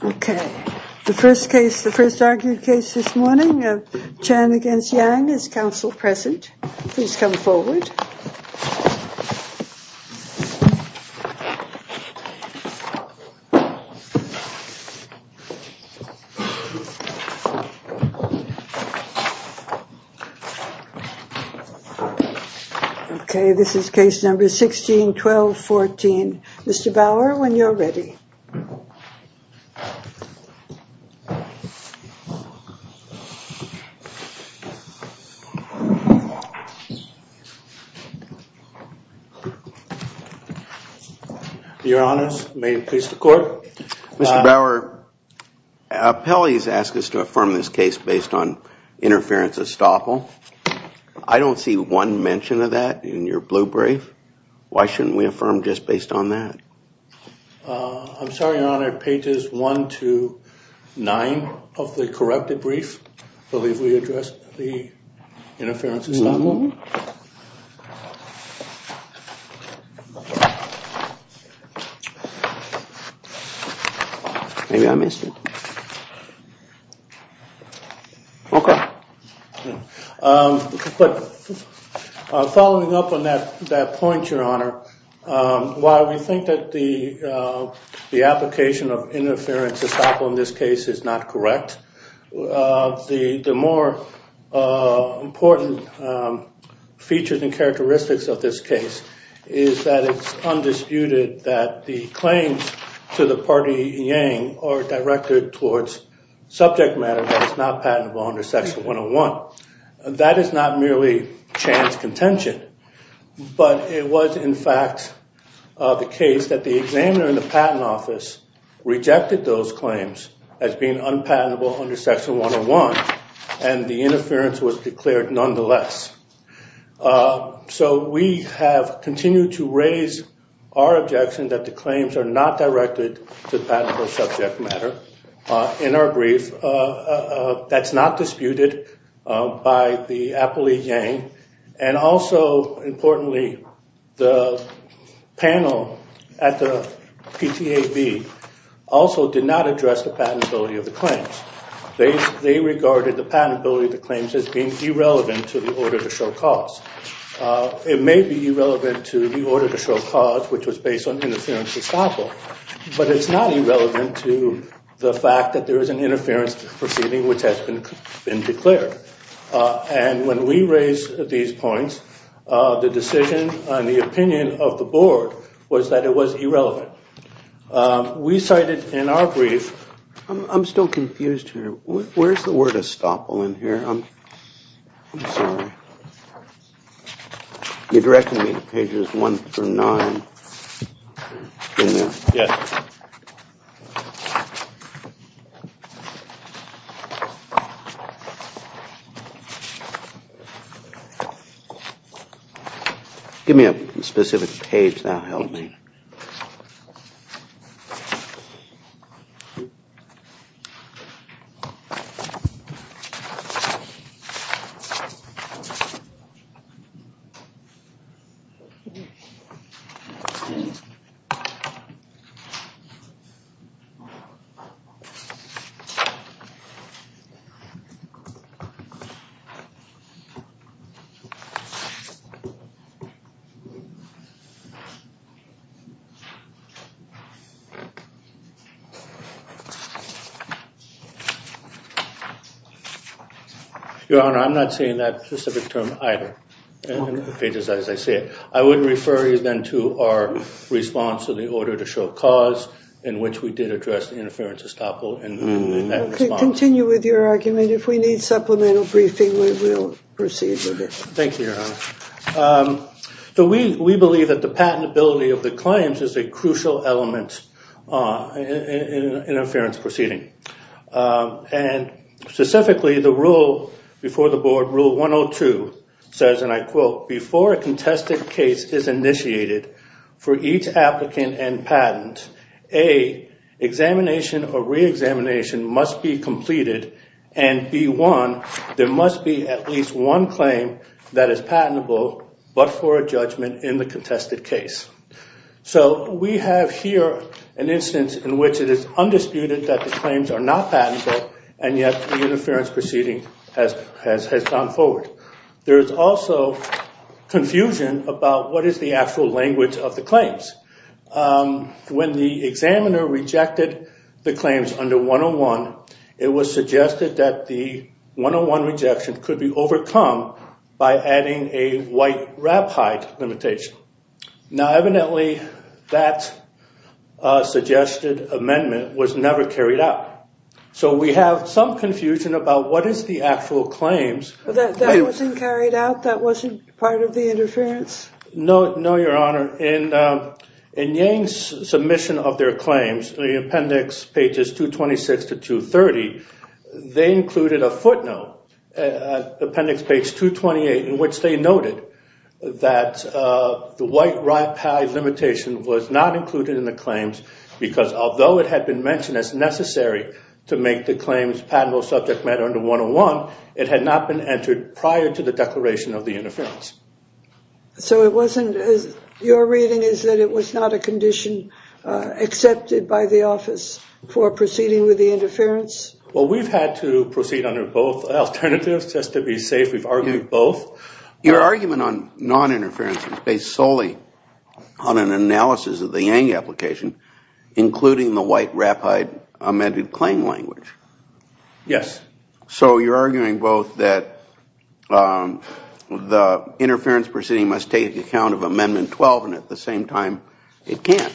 Okay, the first case, the first argued case this morning of Chan against Yang is counsel present. Please come forward. Okay, this is case number 16 1214. Mr. Bauer when you're ready. Your honors, may it please the court. Mr. Bauer, appellees asked us to affirm this case based on interference of Stoffel. I don't see one mention of that in your blue brief. Why shouldn't we affirm just based on that? I'm sorry, your honor. Pages 1 to 9 of the While we think that the application of interference of Stoffel in this case is not correct, the more important features and characteristics of this case is that it's undisputed that the claims to the party Yang are directed towards subject matter that is not patentable under section 101. That is not merely Chan's contention, but it was in fact the case that the examiner in the patent office rejected those claims as being unpatentable under section 101 and the interference was declared nonetheless. So we have continued to raise our objection that the claims are not directed to patentable subject matter in our brief. That's not disputed by the appellee Yang. And also importantly, the panel at the PTAB also did not address the patentability of the claims. They regarded the patentability of the claims as being irrelevant to the order to show cause. It may be irrelevant to the order to show cause which was based on interference of Stoffel, but it's not irrelevant to the fact that there is an interference proceeding which has been declared. And when we raise these points, the decision and the opinion of the board was that it was irrelevant. We cited in our brief... I'm still confused here. Where's the word of Stoffel in here? I'm sorry. You're directing me to pages one through nine. Give me a specific page that will help me. Okay. Your Honor, I'm not saying that specific term either. In the pages as I say it. I would refer you then to our response to the order to show cause in which we did address the interference of Stoffel. Continue with your argument. If we need supplemental briefing, we will proceed with it. Thank you, Your Honor. We believe that the patentability of the claims is a crucial element in an interference proceeding. And specifically, the rule before the board, Rule 102, says, and I quote, before a contested case is initiated for each applicant and patent, A, examination or re-examination must be completed, and B1, there must be at least one claim that is patentable but for a judgment in the contested case. So we have here an instance in which it is undisputed that the claims are not patentable, and yet the interference proceeding has gone forward. There is also confusion about what is the actual language of the claims. When the examiner rejected the claims under 101, it was suggested that the 101 rejection could be overcome by adding a white-wrap height limitation. Now evidently, that suggested amendment was never carried out. So we have some confusion about what is the actual claims. That wasn't carried out? That wasn't part of the interference? No, your honor. In Yang's submission of their claims, in appendix pages 226 to 230, they included a footnote, appendix page 228, in which they noted that the white-wrap height limitation was not included in the claims because although it had been mentioned as necessary to make the claims patentable subject matter under 101, it had not been entered prior to the declaration of the interference. So it wasn't, your reading is that it was not a condition accepted by the office for proceeding with the interference? Well, we've had to proceed under both alternatives just to be safe. We've argued both. Your argument on noninterference is based solely on an analysis of the Yang application, including the white-wrap height amended claim language. So you're arguing both that the interference proceeding must take account of amendment 12 and at the same time it can't.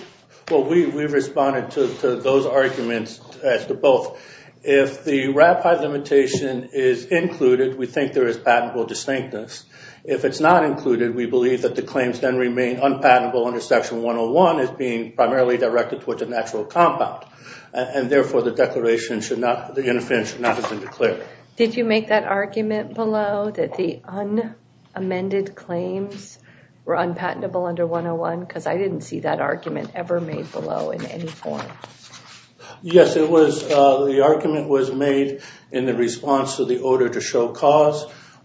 Well, we've responded to those arguments as to both. If the wrap height limitation is included, we think there is patentable distinctness. If it's not included, we believe that the claims then remain unpatentable under section 101 as being primarily directed towards a natural compound and therefore the interference should not have been declared. Did you make that argument below that the unamended claims were unpatentable under 101? Because I didn't see that argument ever made below in any form. Yes, the argument was made in the response to the order to show cause.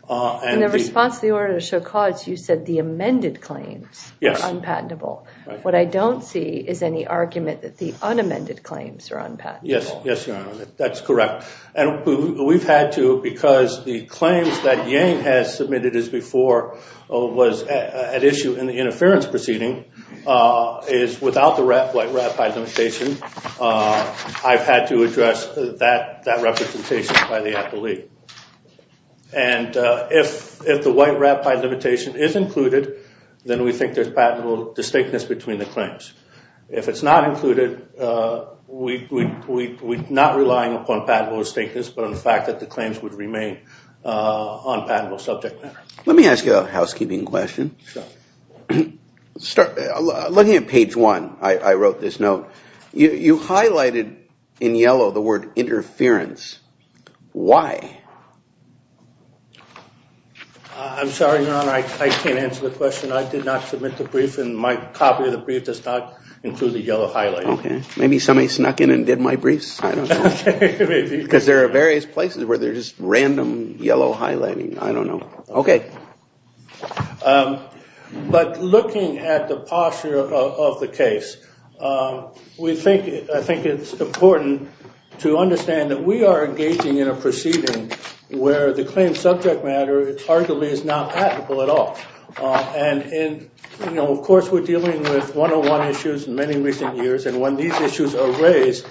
In the response to the order to show cause, you said the amended claims were unpatentable. What I don't see is any argument that the unamended claims are unpatentable. Yes, that's correct. And we've had to because the claims that Yang has submitted as before was at issue in the interference proceeding is without the wrap height limitation. I've had to address that representation by the appellee. And if the white wrap height limitation is included, then we think there's patentable distinctness between the claims. If it's not included, we're not relying upon patentable distinctness, but on the fact that the claims would remain unpatentable subject matter. Let me ask you a housekeeping question. Looking at page one, I wrote this note. You highlighted in yellow the word interference. Why? I'm sorry, Your Honor, I can't answer the question. I did not submit the brief and my copy of the brief does not include the yellow highlighting. Maybe somebody snuck in and did my briefs. Because there are various places where there's just random yellow highlighting. I don't know. Okay. But looking at the posture of the case, I think it's important to understand that we are engaging in a proceeding where the claim subject matter arguably is not patentable at all. Of course, we're dealing with one-on-one issues in many recent years. And when these issues are raised,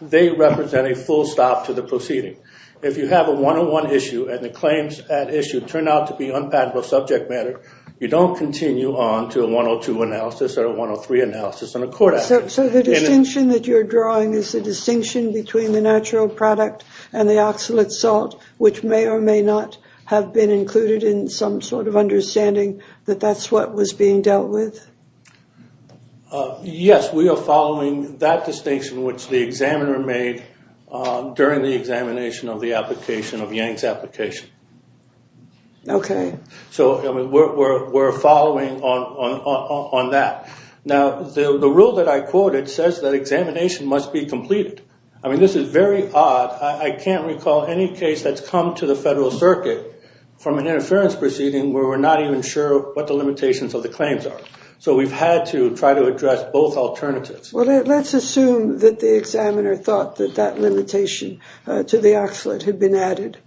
they represent a full stop to the proceeding. If you have a one-on-one issue and the claims at issue turn out to be unpatentable subject matter, you don't continue on to a 102 analysis or a 103 analysis and a court action. So the distinction that you're drawing is the distinction between the natural product and the oxalate salt, which may or may not have been included in some sort of understanding that that's what was being dealt with? Yes, we are following that distinction, which the examiner made during the examination of the application of Yang's application. Okay. So we're following on that. Now, the rule that I quoted says that examination must be completed. I mean, this is very odd. I can't recall any case that's come to the federal circuit from an interference proceeding where we're not even sure what the limitations of the claims are. So we've had to try to address both alternatives. Well, let's assume that the examiner thought that that limitation to the oxalate had been added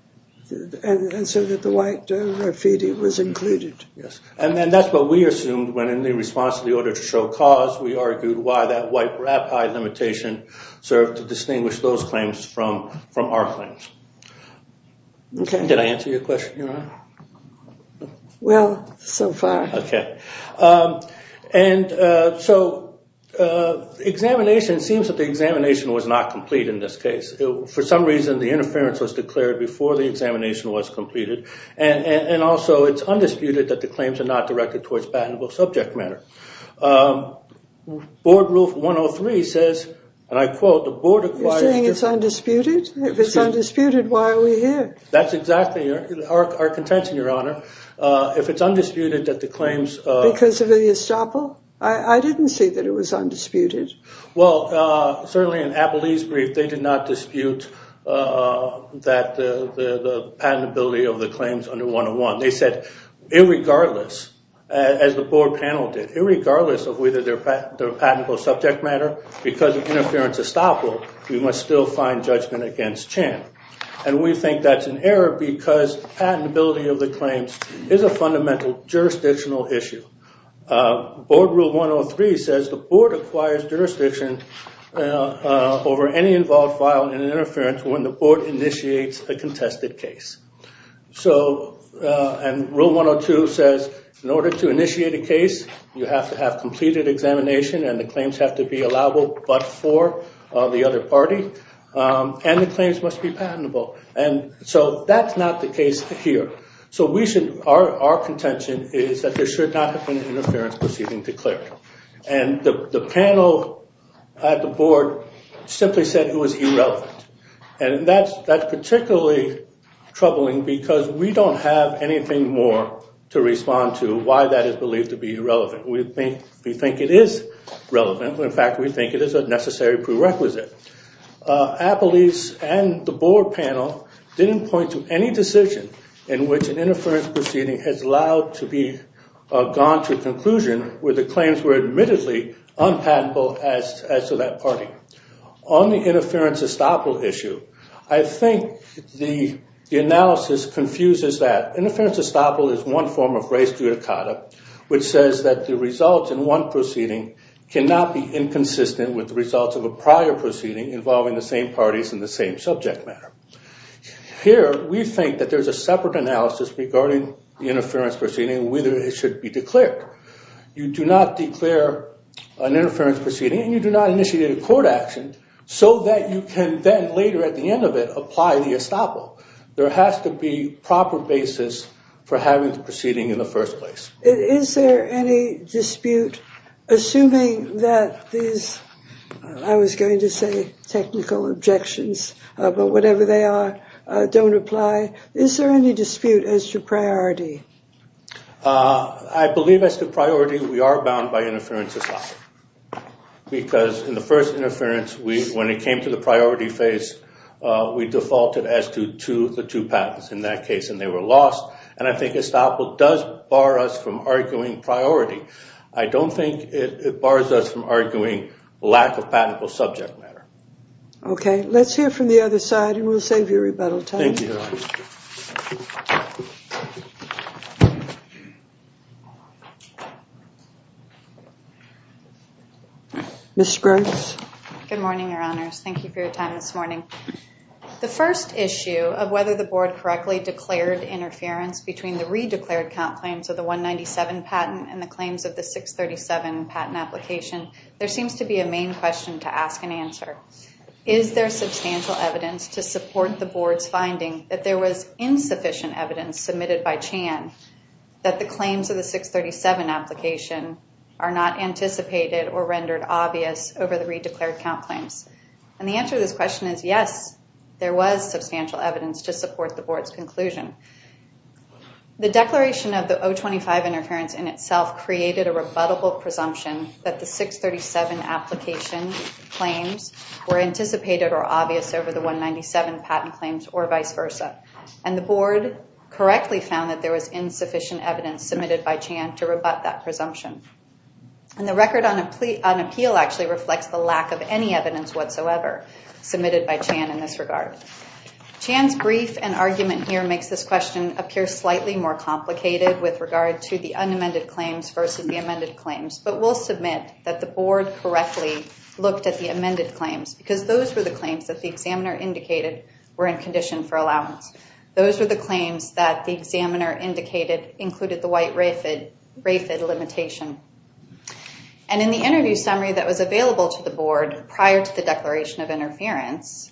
and so that the white graffiti was included. Yes. And then that's what we assumed when, in the response to the order to show cause, we argued why that white rapide limitation served to distinguish those claims from our claims. Did I answer your question, Your Honor? Well, so far. Okay. And so examination, it seems that the examination was not complete in this case. For some reason, the interference was declared before the examination was completed. And also, it's undisputed that the claims are not directed towards patentable subject matter. Board Rule 103 says, and I quote, You're saying it's undisputed? If it's undisputed, why are we here? That's exactly our contention, Your Honor. If it's undisputed that the claims... Because of the estoppel? I didn't say that it was undisputed. Well, certainly in Abilene's brief, they did not dispute the patentability of the claims under 101. They said, irregardless, as the board panel did, irregardless of whether they're patentable subject matter, because of interference estoppel, we must still find judgment against Chan. And we think that's an error because patentability of the claims is a fundamental jurisdictional issue. Board Rule 103 says, the board acquires jurisdiction over any involved file in an interference when the board initiates a contested case. So, and Rule 102 says, in order to initiate a case, you have to have completed examination and the claims have to be allowable but for the other party. And the claims must be patentable. And so that's not the case here. So we should, our contention is that there should not have been interference proceeding declared. And the panel at the board simply said it was irrelevant. And that's particularly troubling because we don't have anything more to respond to as to why that is believed to be irrelevant. We think it is relevant. In fact, we think it is a necessary prerequisite. Appellees and the board panel didn't point to any decision in which an interference proceeding has allowed to be gone to a conclusion where the claims were admittedly unpatentable as to that party. On the interference estoppel issue, I think the analysis confuses that. Here, we think that there's a separate analysis regarding the interference proceeding and whether it should be declared. You do not declare an interference proceeding and you do not initiate a court action so that you can then later at the end of it apply the estoppel. There has to be proper basis for having the proceeding in the first place. Is there any dispute, assuming that these, I was going to say technical objections, but whatever they are, don't apply, is there any dispute as to priority? I believe as to priority, we are bound by interference estoppel. Because in the first interference, when it came to the priority phase, we defaulted as to the two patents in that case, and they were lost. And I think estoppel does bar us from arguing priority. I don't think it bars us from arguing lack of patentable subject matter. Okay, let's hear from the other side, and we'll save you a rebuttal time. Thank you, Your Honor. Ms. Spriggs. Good morning, Your Honors. Thank you for your time this morning. The first issue of whether the board correctly declared interference between the re-declared count claims of the 197 patent and the claims of the 637 patent application, there seems to be a main question to ask and answer. Is there substantial evidence to support the board's finding that there was insufficient evidence submitted by Chan that the claims of the 637 application are not anticipated or rendered obvious over the re-declared count claims? And the answer to this question is yes, there was substantial evidence to support the board's conclusion. The declaration of the 025 interference in itself created a rebuttable presumption that the 637 application claims were anticipated or obvious over the 197 patent claims or vice versa, and the board correctly found that there was insufficient evidence submitted by Chan to rebut that presumption. And the record on appeal actually reflects the lack of any evidence whatsoever submitted by Chan in this regard. Chan's brief and argument here makes this question appear slightly more complicated with regard to the unamended claims versus the amended claims, but we'll submit that the board correctly looked at the amended claims because those were the claims that the examiner indicated were in condition for allowance. Those were the claims that the examiner indicated included the white RAFID limitation, and in the interview summary that was available to the board prior to the declaration of interference,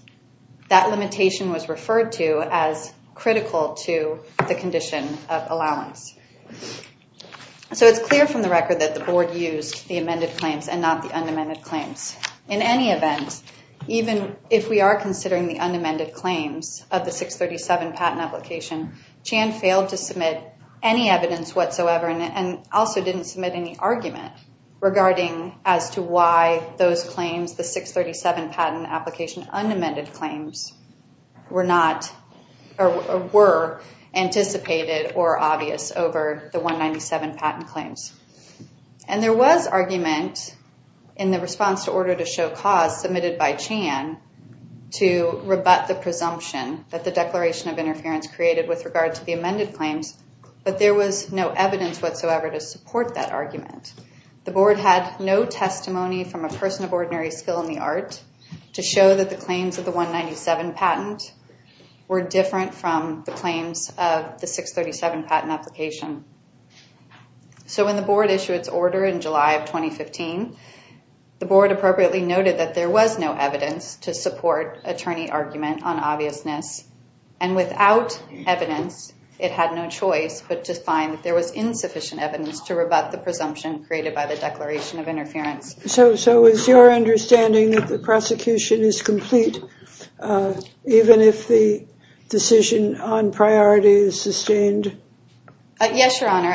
that limitation was referred to as critical to the condition of allowance. So it's clear from the record that the board used the amended claims and not the unamended claims. In any event, even if we are considering the unamended claims of the 637 patent application, Chan failed to submit any evidence whatsoever and also didn't submit any argument regarding as to why those claims, the 637 patent application unamended claims, were not or were anticipated or obvious over the 197 patent claims. And there was argument in the response to order to show cause submitted by Chan to rebut the presumption that the declaration of interference created with regard to the amended claims, but there was no evidence whatsoever to support that argument. The board had no testimony from a person of ordinary skill in the art to show that the claims of the 197 patent were different from the claims of the 637 patent application. So when the board issued its order in July of 2015, the board appropriately noted that there was no evidence to support attorney argument on obviousness. And without evidence, it had no choice but to find that there was insufficient evidence to rebut the presumption created by the declaration of interference. So is your understanding that the prosecution is complete even if the decision on priority is sustained? Yes, Your Honor.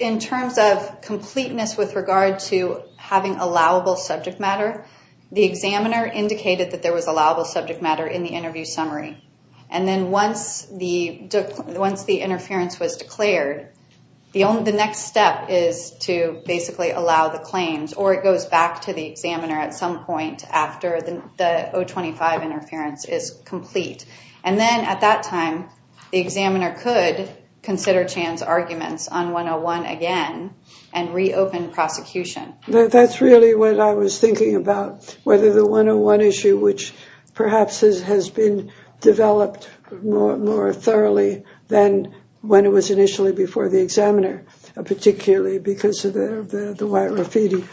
In terms of completeness with regard to having allowable subject matter, the examiner indicated that there was allowable subject matter in the interview summary. And then once the interference was declared, the next step is to basically allow the claims or it goes back to the examiner at some point after the 025 interference is complete. And then at that time, the examiner could consider Chan's arguments on 101 again and reopen prosecution. That's really what I was thinking about, whether the 101 issue, which perhaps has been developed more thoroughly than when it was initially before the examiner, particularly because of the white graffiti.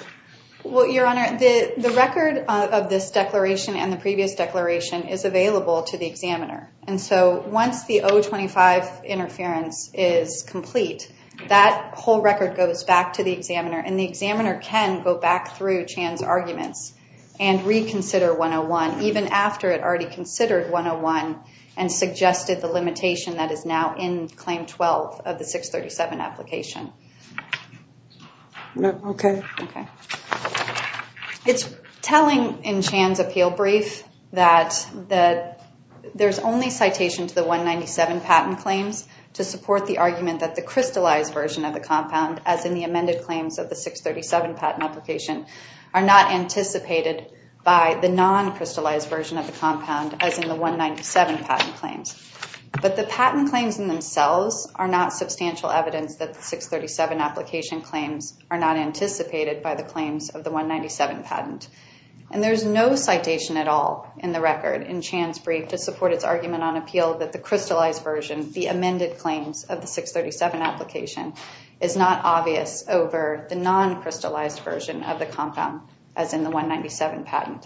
Well, Your Honor, the record of this declaration and the previous declaration is available to the examiner. And so once the 025 interference is complete, that whole record goes back to the examiner and the examiner can go back through Chan's arguments and reconsider 101, even after it already considered 101 and suggested the limitation that is now in claim 12 of the 637 application. Okay. It's telling in Chan's appeal brief that there's only citation to the 197 patent claims to support the argument that the crystallized version of the compound, as in the amended claims of the 637 patent application, are not anticipated by the non-crystallized version of the compound, as in the 197 patent claims. But the patent claims in themselves are not substantial evidence that the 637 application claims are not anticipated by the claims of the 197 patent. And there's no citation at all in the record in Chan's brief to support its argument on appeal that the crystallized version, the amended claims of the 637 application, is not obvious over the non-crystallized version of the compound, as in the 197 patent.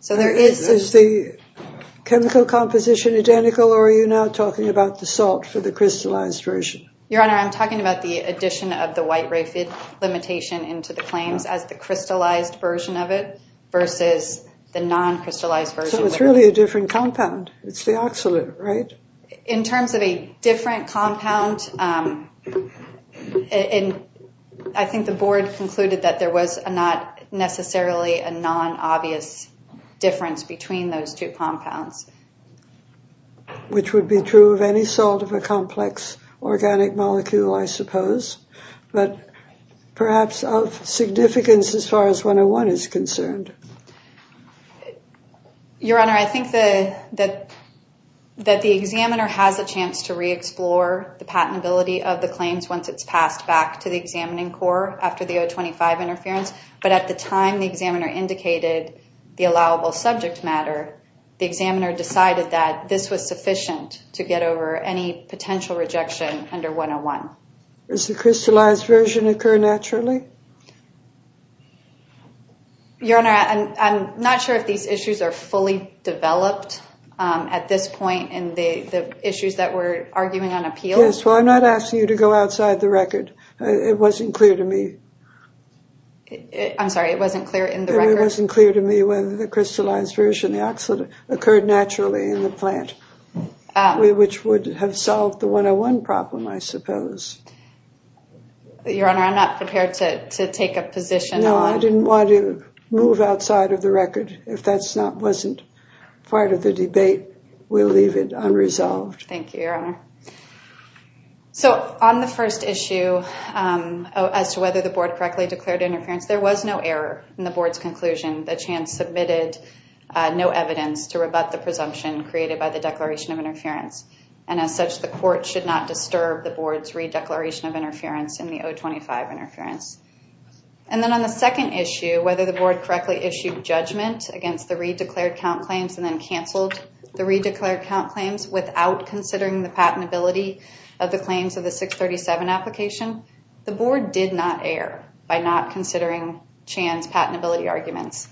Is the chemical composition identical, or are you now talking about the salt for the crystallized version? Your Honor, I'm talking about the addition of the white-raphid limitation into the claims as the crystallized version of it versus the non-crystallized version. So it's really a different compound. It's the oxalate, right? In terms of a different compound, I think the board concluded that there was not necessarily a non-obvious difference between those two compounds. Which would be true of any sort of a complex organic molecule, I suppose, but perhaps of significance as far as 101 is concerned. Your Honor, I think that the examiner has a chance to re-explore the patentability of the claims once it's passed back to the examining court after the 025 interference, but at the time the examiner indicated the allowable subject matter, the examiner decided that this was sufficient to get over any potential rejection under 101. Does the crystallized version occur naturally? Your Honor, I'm not sure if these issues are fully developed at this point in the issues that we're arguing on appeal. Yes, well, I'm not asking you to go outside the record. It wasn't clear to me. I'm sorry, it wasn't clear in the record? It wasn't clear to me whether the crystallized version, the oxalate, occurred naturally in the plant, which would have solved the 101 problem, I suppose. Your Honor, I'm not prepared to take a position. No, I didn't want to move outside of the record. If that wasn't part of the debate, we'll leave it unresolved. Thank you, Your Honor. So on the first issue as to whether the board correctly declared interference, there was no error in the board's conclusion. The chance submitted no evidence to rebut the presumption created by the declaration of interference, and as such, the court should not disturb the board's re-declaration of interference in the 025 interference. And then on the second issue, whether the board correctly issued judgment against the re-declared count claims and then canceled the re-declared count claims without considering the patentability of the claims of the 637 application, the board did not err by not considering Chan's patentability arguments.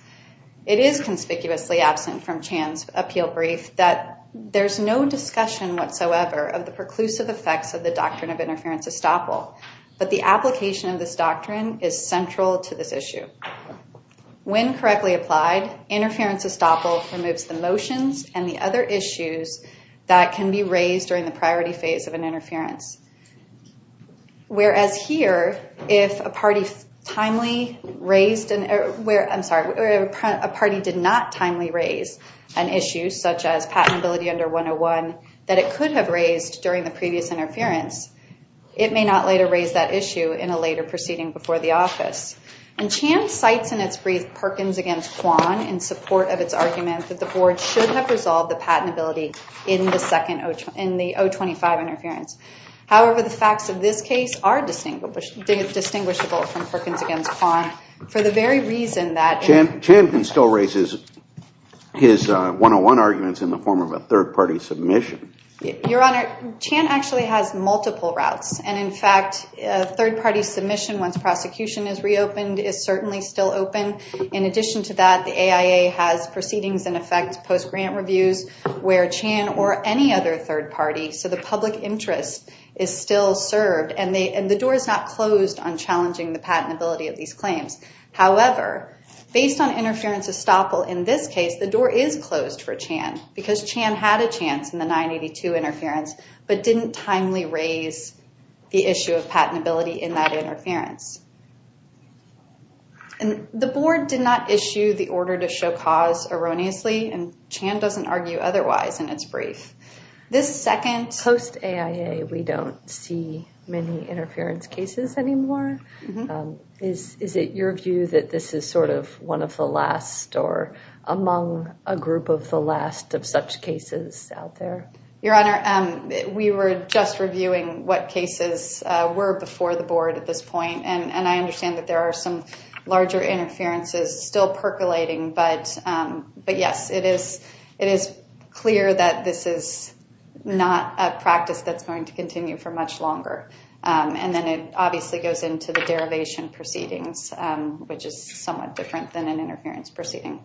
It is conspicuously absent from Chan's appeal brief that there's no discussion whatsoever of the preclusive effects of the doctrine of interference estoppel, but the application of this doctrine is central to this issue. When correctly applied, interference estoppel removes the motions and the other issues that can be raised during the priority phase of an interference. Whereas here, if a party did not timely raise an issue such as patentability under 101 that it could have raised during the previous interference, it may not later raise that issue in a later proceeding before the office. And Chan cites in its brief Perkins against Kwan in support of its argument that the board should have resolved the patentability in the 025 interference. However, the facts of this case are distinguishable from Perkins against Kwan for the very reason that... Chan still raises his 101 arguments in the form of a third-party submission. Your Honor, Chan actually has multiple routes. And in fact, a third-party submission once prosecution is reopened is certainly still open. In addition to that, the AIA has proceedings in effect post-grant reviews where Chan or any other third party, so the public interest is still served and the door is not closed on challenging the patentability of these claims. However, based on interference estoppel in this case, the door is closed for Chan because Chan had a chance in the 982 interference but didn't timely raise the issue of patentability in that interference. And the board did not issue the order to show cause erroneously and Chan doesn't argue otherwise in its brief. This second... Post-AIA, we don't see many interference cases anymore. Is it your view that this is sort of one of the last or among a group of the last of such cases out there? Your Honor, we were just reviewing what cases were before the board at this point. And I understand that there are some larger interferences still percolating. But yes, it is clear that this is not a practice that's going to continue for much longer. And then it obviously goes into the derivation proceedings, which is somewhat different than an interference proceeding.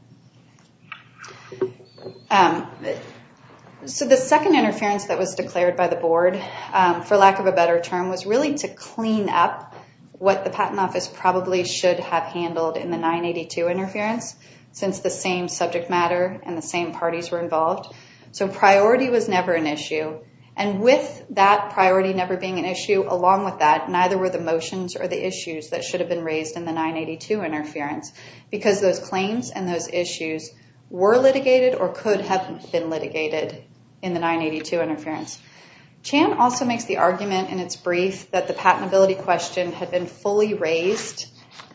So the second interference that was declared by the board, for lack of a better term, was really to clean up what the Patent Office probably should have handled in the 982 interference since the same subject matter and the same parties were involved. So priority was never an issue. And with that priority never being an issue, along with that, neither were the motions or the issues that should have been raised in the 982 interference because those claims and those issues were litigated or could have been litigated in the 982 interference. Chan also makes the argument in its brief that the patentability question had been fully raised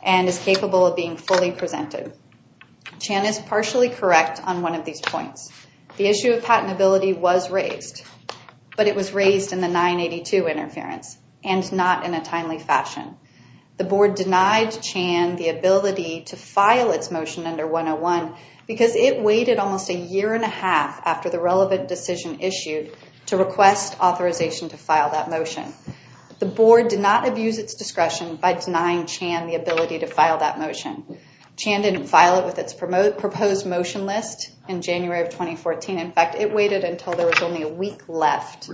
and is capable of being fully presented. Chan is partially correct on one of these points. The issue of patentability was raised, but it was raised in the 982 interference and not in a timely fashion. The board denied Chan the ability to file its motion under 101 because it waited almost a year and a half after the relevant decision issued to request authorization to file that motion. The board did not abuse its discretion by denying Chan the ability to file that motion. Chan didn't file it with its proposed motion list in January of 2014. In fact, it waited until there was only a week left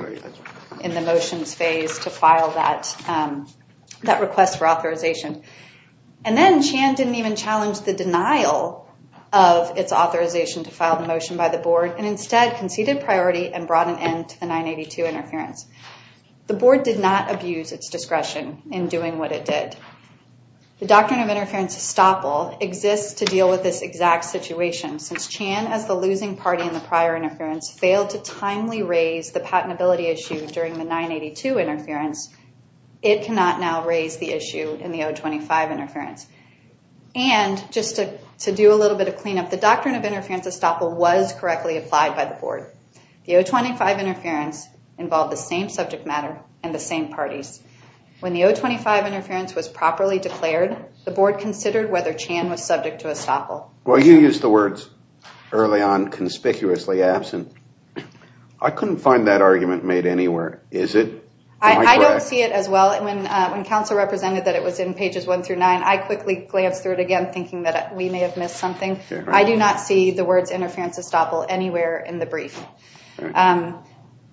in the motions phase to file that request for authorization. And then Chan didn't even challenge the denial of its authorization to file the motion by the board and instead conceded priority and brought an end to the 982 interference. The board did not abuse its discretion in doing what it did. The doctrine of interference estoppel exists to deal with this exact situation. Since Chan, as the losing party in the prior interference, failed to timely raise the patentability issue during the 982 interference, it cannot now raise the issue in the 025 interference. And just to do a little bit of cleanup, the doctrine of interference estoppel was correctly applied by the board. The 025 interference involved the same subject matter and the same parties. When the 025 interference was properly declared, the board considered whether Chan was subject to estoppel. Well, you used the words early on, conspicuously absent. I couldn't find that argument made anywhere, is it? I don't see it as well. When counsel represented that it was in pages one through nine, I quickly glanced through it again thinking that we may have missed something. I do not see the words interference estoppel anywhere in the brief.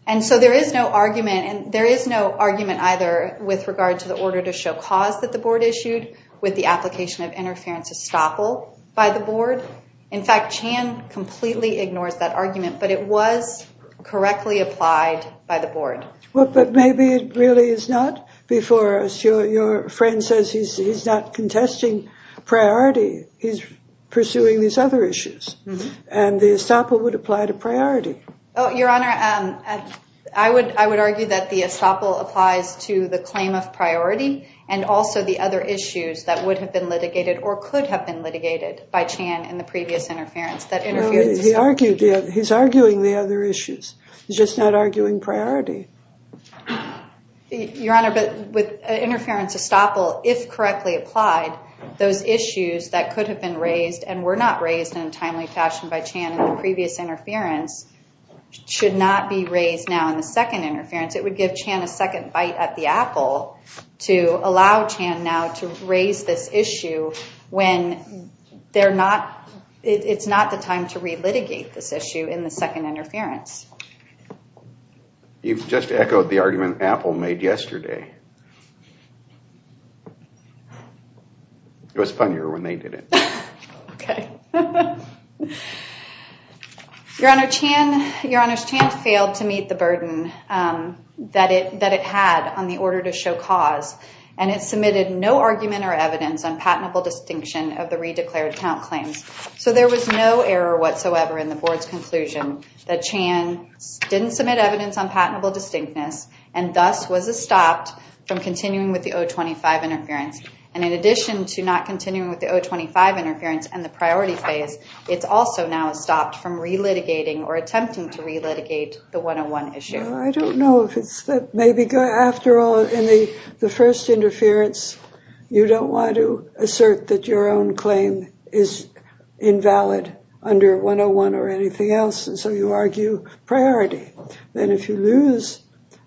And so there is no argument either with regard to the order to show cause that the board issued with the application of interference estoppel by the board. In fact, Chan completely ignores that argument, but it was correctly applied by the board. Well, but maybe it really is not before us. Your friend says he's not contesting priority. He's pursuing these other issues, and the estoppel would apply to priority. Your Honor, I would argue that the estoppel applies to the claim of priority and also the other issues that would have been litigated or could have been litigated by Chan in the previous interference. He's arguing the other issues. He's just not arguing priority. Your Honor, with interference estoppel, if correctly applied, those issues that could have been raised and were not raised in a timely fashion by Chan in the previous interference should not be raised now in the second interference. It would give Chan a second bite at the apple to allow Chan now to raise this issue when it's not the time to relitigate this issue in the second interference. You've just echoed the argument Apple made yesterday. It was funnier when they did it. Okay. Your Honor, Chan failed to meet the burden that it had on the order to show cause, and it submitted no argument or evidence on patentable distinction of the re-declared count claims. So there was no error whatsoever in the board's conclusion that Chan didn't submit evidence on patentable distinctness and thus was estopped from continuing with the 025 interference. And in addition to not continuing with the 025 interference and the priority phase, it's also now estopped from relitigating or attempting to relitigate the 101 issue. I don't know if it's that. Maybe after all, in the first interference, you don't want to assert that your own claim is invalid under 101 or anything else, and so you argue priority. Then if you lose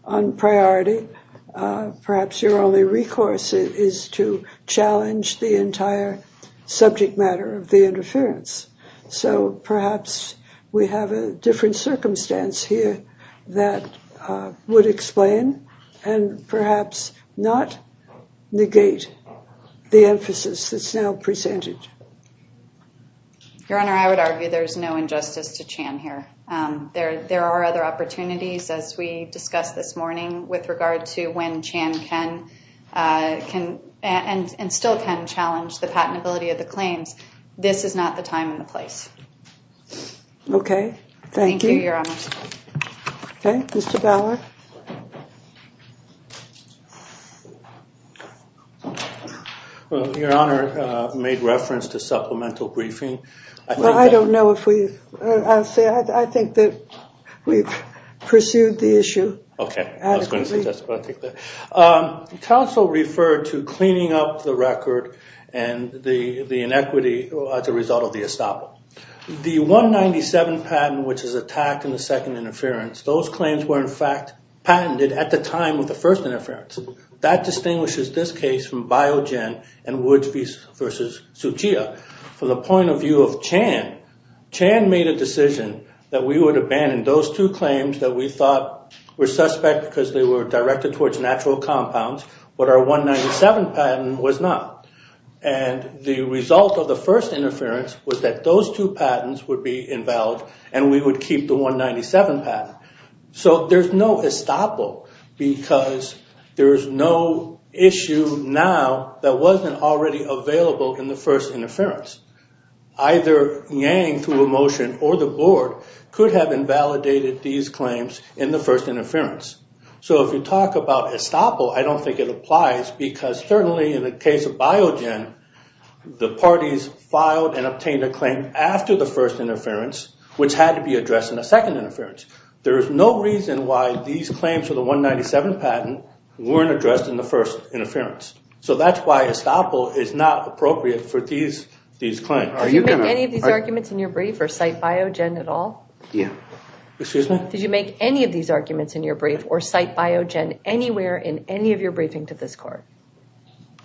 on priority, perhaps your only recourse is to challenge the entire subject matter of the interference. So perhaps we have a different circumstance here that would explain and perhaps not negate the emphasis that's now presented. Your Honor, I would argue there's no injustice to Chan here. There are other opportunities, as we discussed this morning, with regard to when Chan can and still can challenge the patentability of the claims. This is not the time and the place. Okay. Thank you. Thank you, Your Honor. Okay. Mr. Ballard. Your Honor made reference to supplemental briefing. Well, I don't know if we—I think that we've pursued the issue adequately. Okay. I was going to suggest that. Counsel referred to cleaning up the record and the inequity as a result of the estoppel. The 197 patent, which is attacked in the second interference, those claims were in fact patented at the time of the first interference. That distinguishes this case from Biogen and Woods v. Tsuchiya. From the point of view of Chan, Chan made a decision that we would abandon those two claims that we thought were suspect because they were directed towards natural compounds, but our 197 patent was not. And the result of the first interference was that those two patents would be invalid and we would keep the 197 patent. So there's no estoppel because there's no issue now that wasn't already available in the first interference. Either Yang, through a motion, or the Board, could have invalidated these claims in the first interference. So if you talk about estoppel, I don't think it applies because certainly in the case of Biogen, the parties filed and obtained a claim after the first interference, which had to be addressed in the second interference. There is no reason why these claims for the 197 patent weren't addressed in the first interference. So that's why estoppel is not appropriate for these claims. Did you make any of these arguments in your brief or cite Biogen at all? Yeah. Excuse me? Did you make any of these arguments in your brief or cite Biogen anywhere in any of your briefing to this court?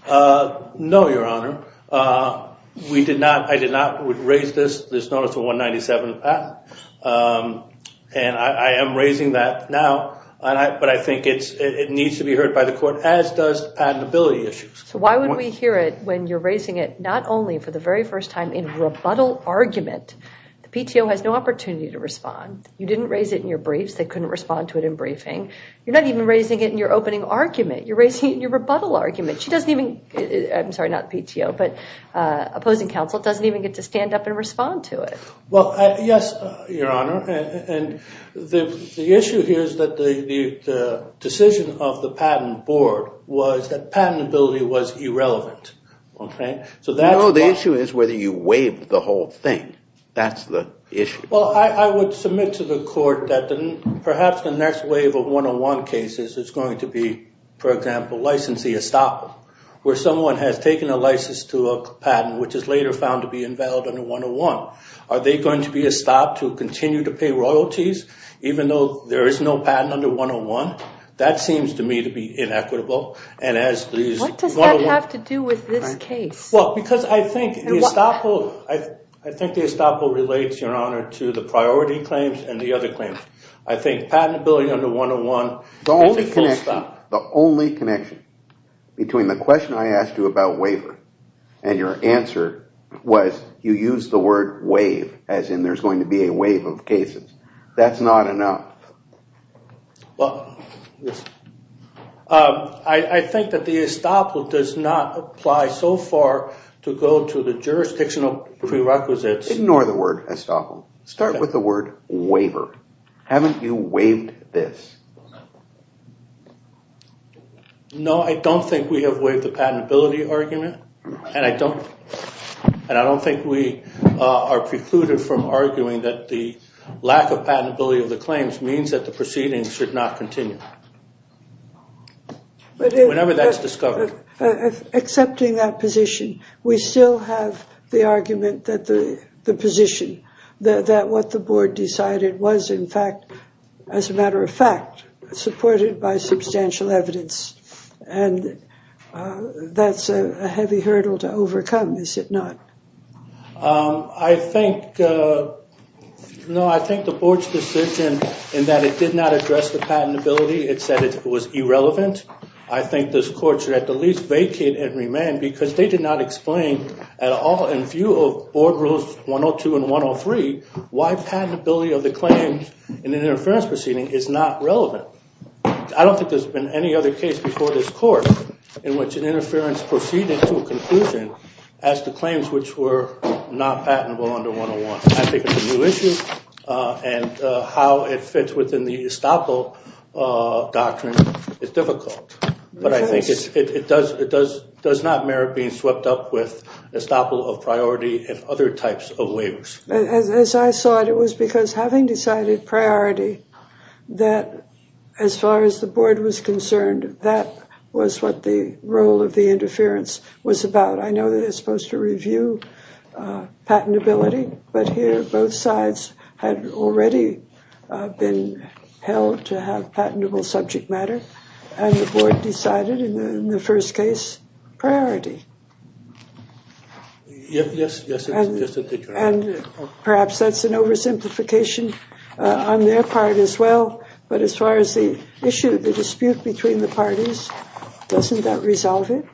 No, Your Honor. I did not raise this notice of 197 patent. And I am raising that now, but I think it needs to be heard by the court, as does patentability issues. So why would we hear it when you're raising it not only for the very first time in rebuttal argument? The PTO has no opportunity to respond. You didn't raise it in your briefs. They couldn't respond to it in briefing. You're not even raising it in your opening argument. You're raising it in your rebuttal argument. She doesn't even, I'm sorry, not PTO, but opposing counsel doesn't even get to stand up and respond to it. Well, yes, Your Honor. And the issue here is that the decision of the patent board was that patentability was irrelevant. No, the issue is whether you waived the whole thing. That's the issue. Well, I would submit to the court that perhaps the next wave of 101 cases is going to be, for example, licensee estoppel, where someone has taken a license to a patent, which is later found to be invalid under 101. Are they going to be estopped to continue to pay royalties, even though there is no patent under 101? That seems to me to be inequitable. What does that have to do with this case? Well, because I think the estoppel relates, Your Honor, to the priority claims and the other claims. I think patentability under 101 is a full stop. The only connection between the question I asked you about waiver and your answer was you used the word wave, as in there's going to be a wave of cases. That's not enough. Well, I think that the estoppel does not apply so far to go to the jurisdictional prerequisites. Ignore the word estoppel. Start with the word waiver. Haven't you waived this? No, I don't think we have waived the patentability argument, and I don't think we are precluded from arguing that the lack of patentability of the claims means that the proceedings should not continue, whenever that's discovered. Accepting that position, we still have the argument that the position, that what the board decided was, in fact, as a matter of fact, supported by substantial evidence, and that's a heavy hurdle to overcome, is it not? I think the board's decision in that it did not address the patentability, it said it was irrelevant. I think this court should at the least vacate and remand, because they did not explain at all, in view of board rules 102 and 103, why patentability of the claims in an interference proceeding is not relevant. I don't think there's been any other case before this court in which an I think it's a new issue, and how it fits within the estoppel doctrine is difficult. But I think it does not merit being swept up with estoppel of priority and other types of waivers. As I saw it, it was because having decided priority, that as far as the board was concerned, that was what the role of the interference was about. I know they're supposed to review patentability, but here both sides had already been held to have patentable subject matter, and the board decided, in the first case, priority. Yes, yes. Perhaps that's an oversimplification on their part as well, but as far as the issue, the dispute between the parties, doesn't that resolve it?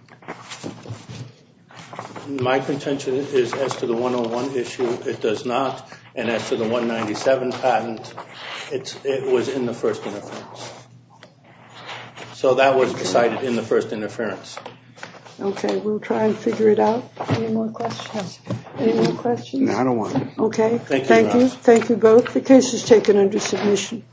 My contention is, as to the 101 issue, it does not, and as to the 197 patent, it was in the first interference. So that was decided in the first interference. Okay, we'll try and figure it out. Any more questions? No, I don't want to. Okay, thank you. Thank you both. The case is taken under submission.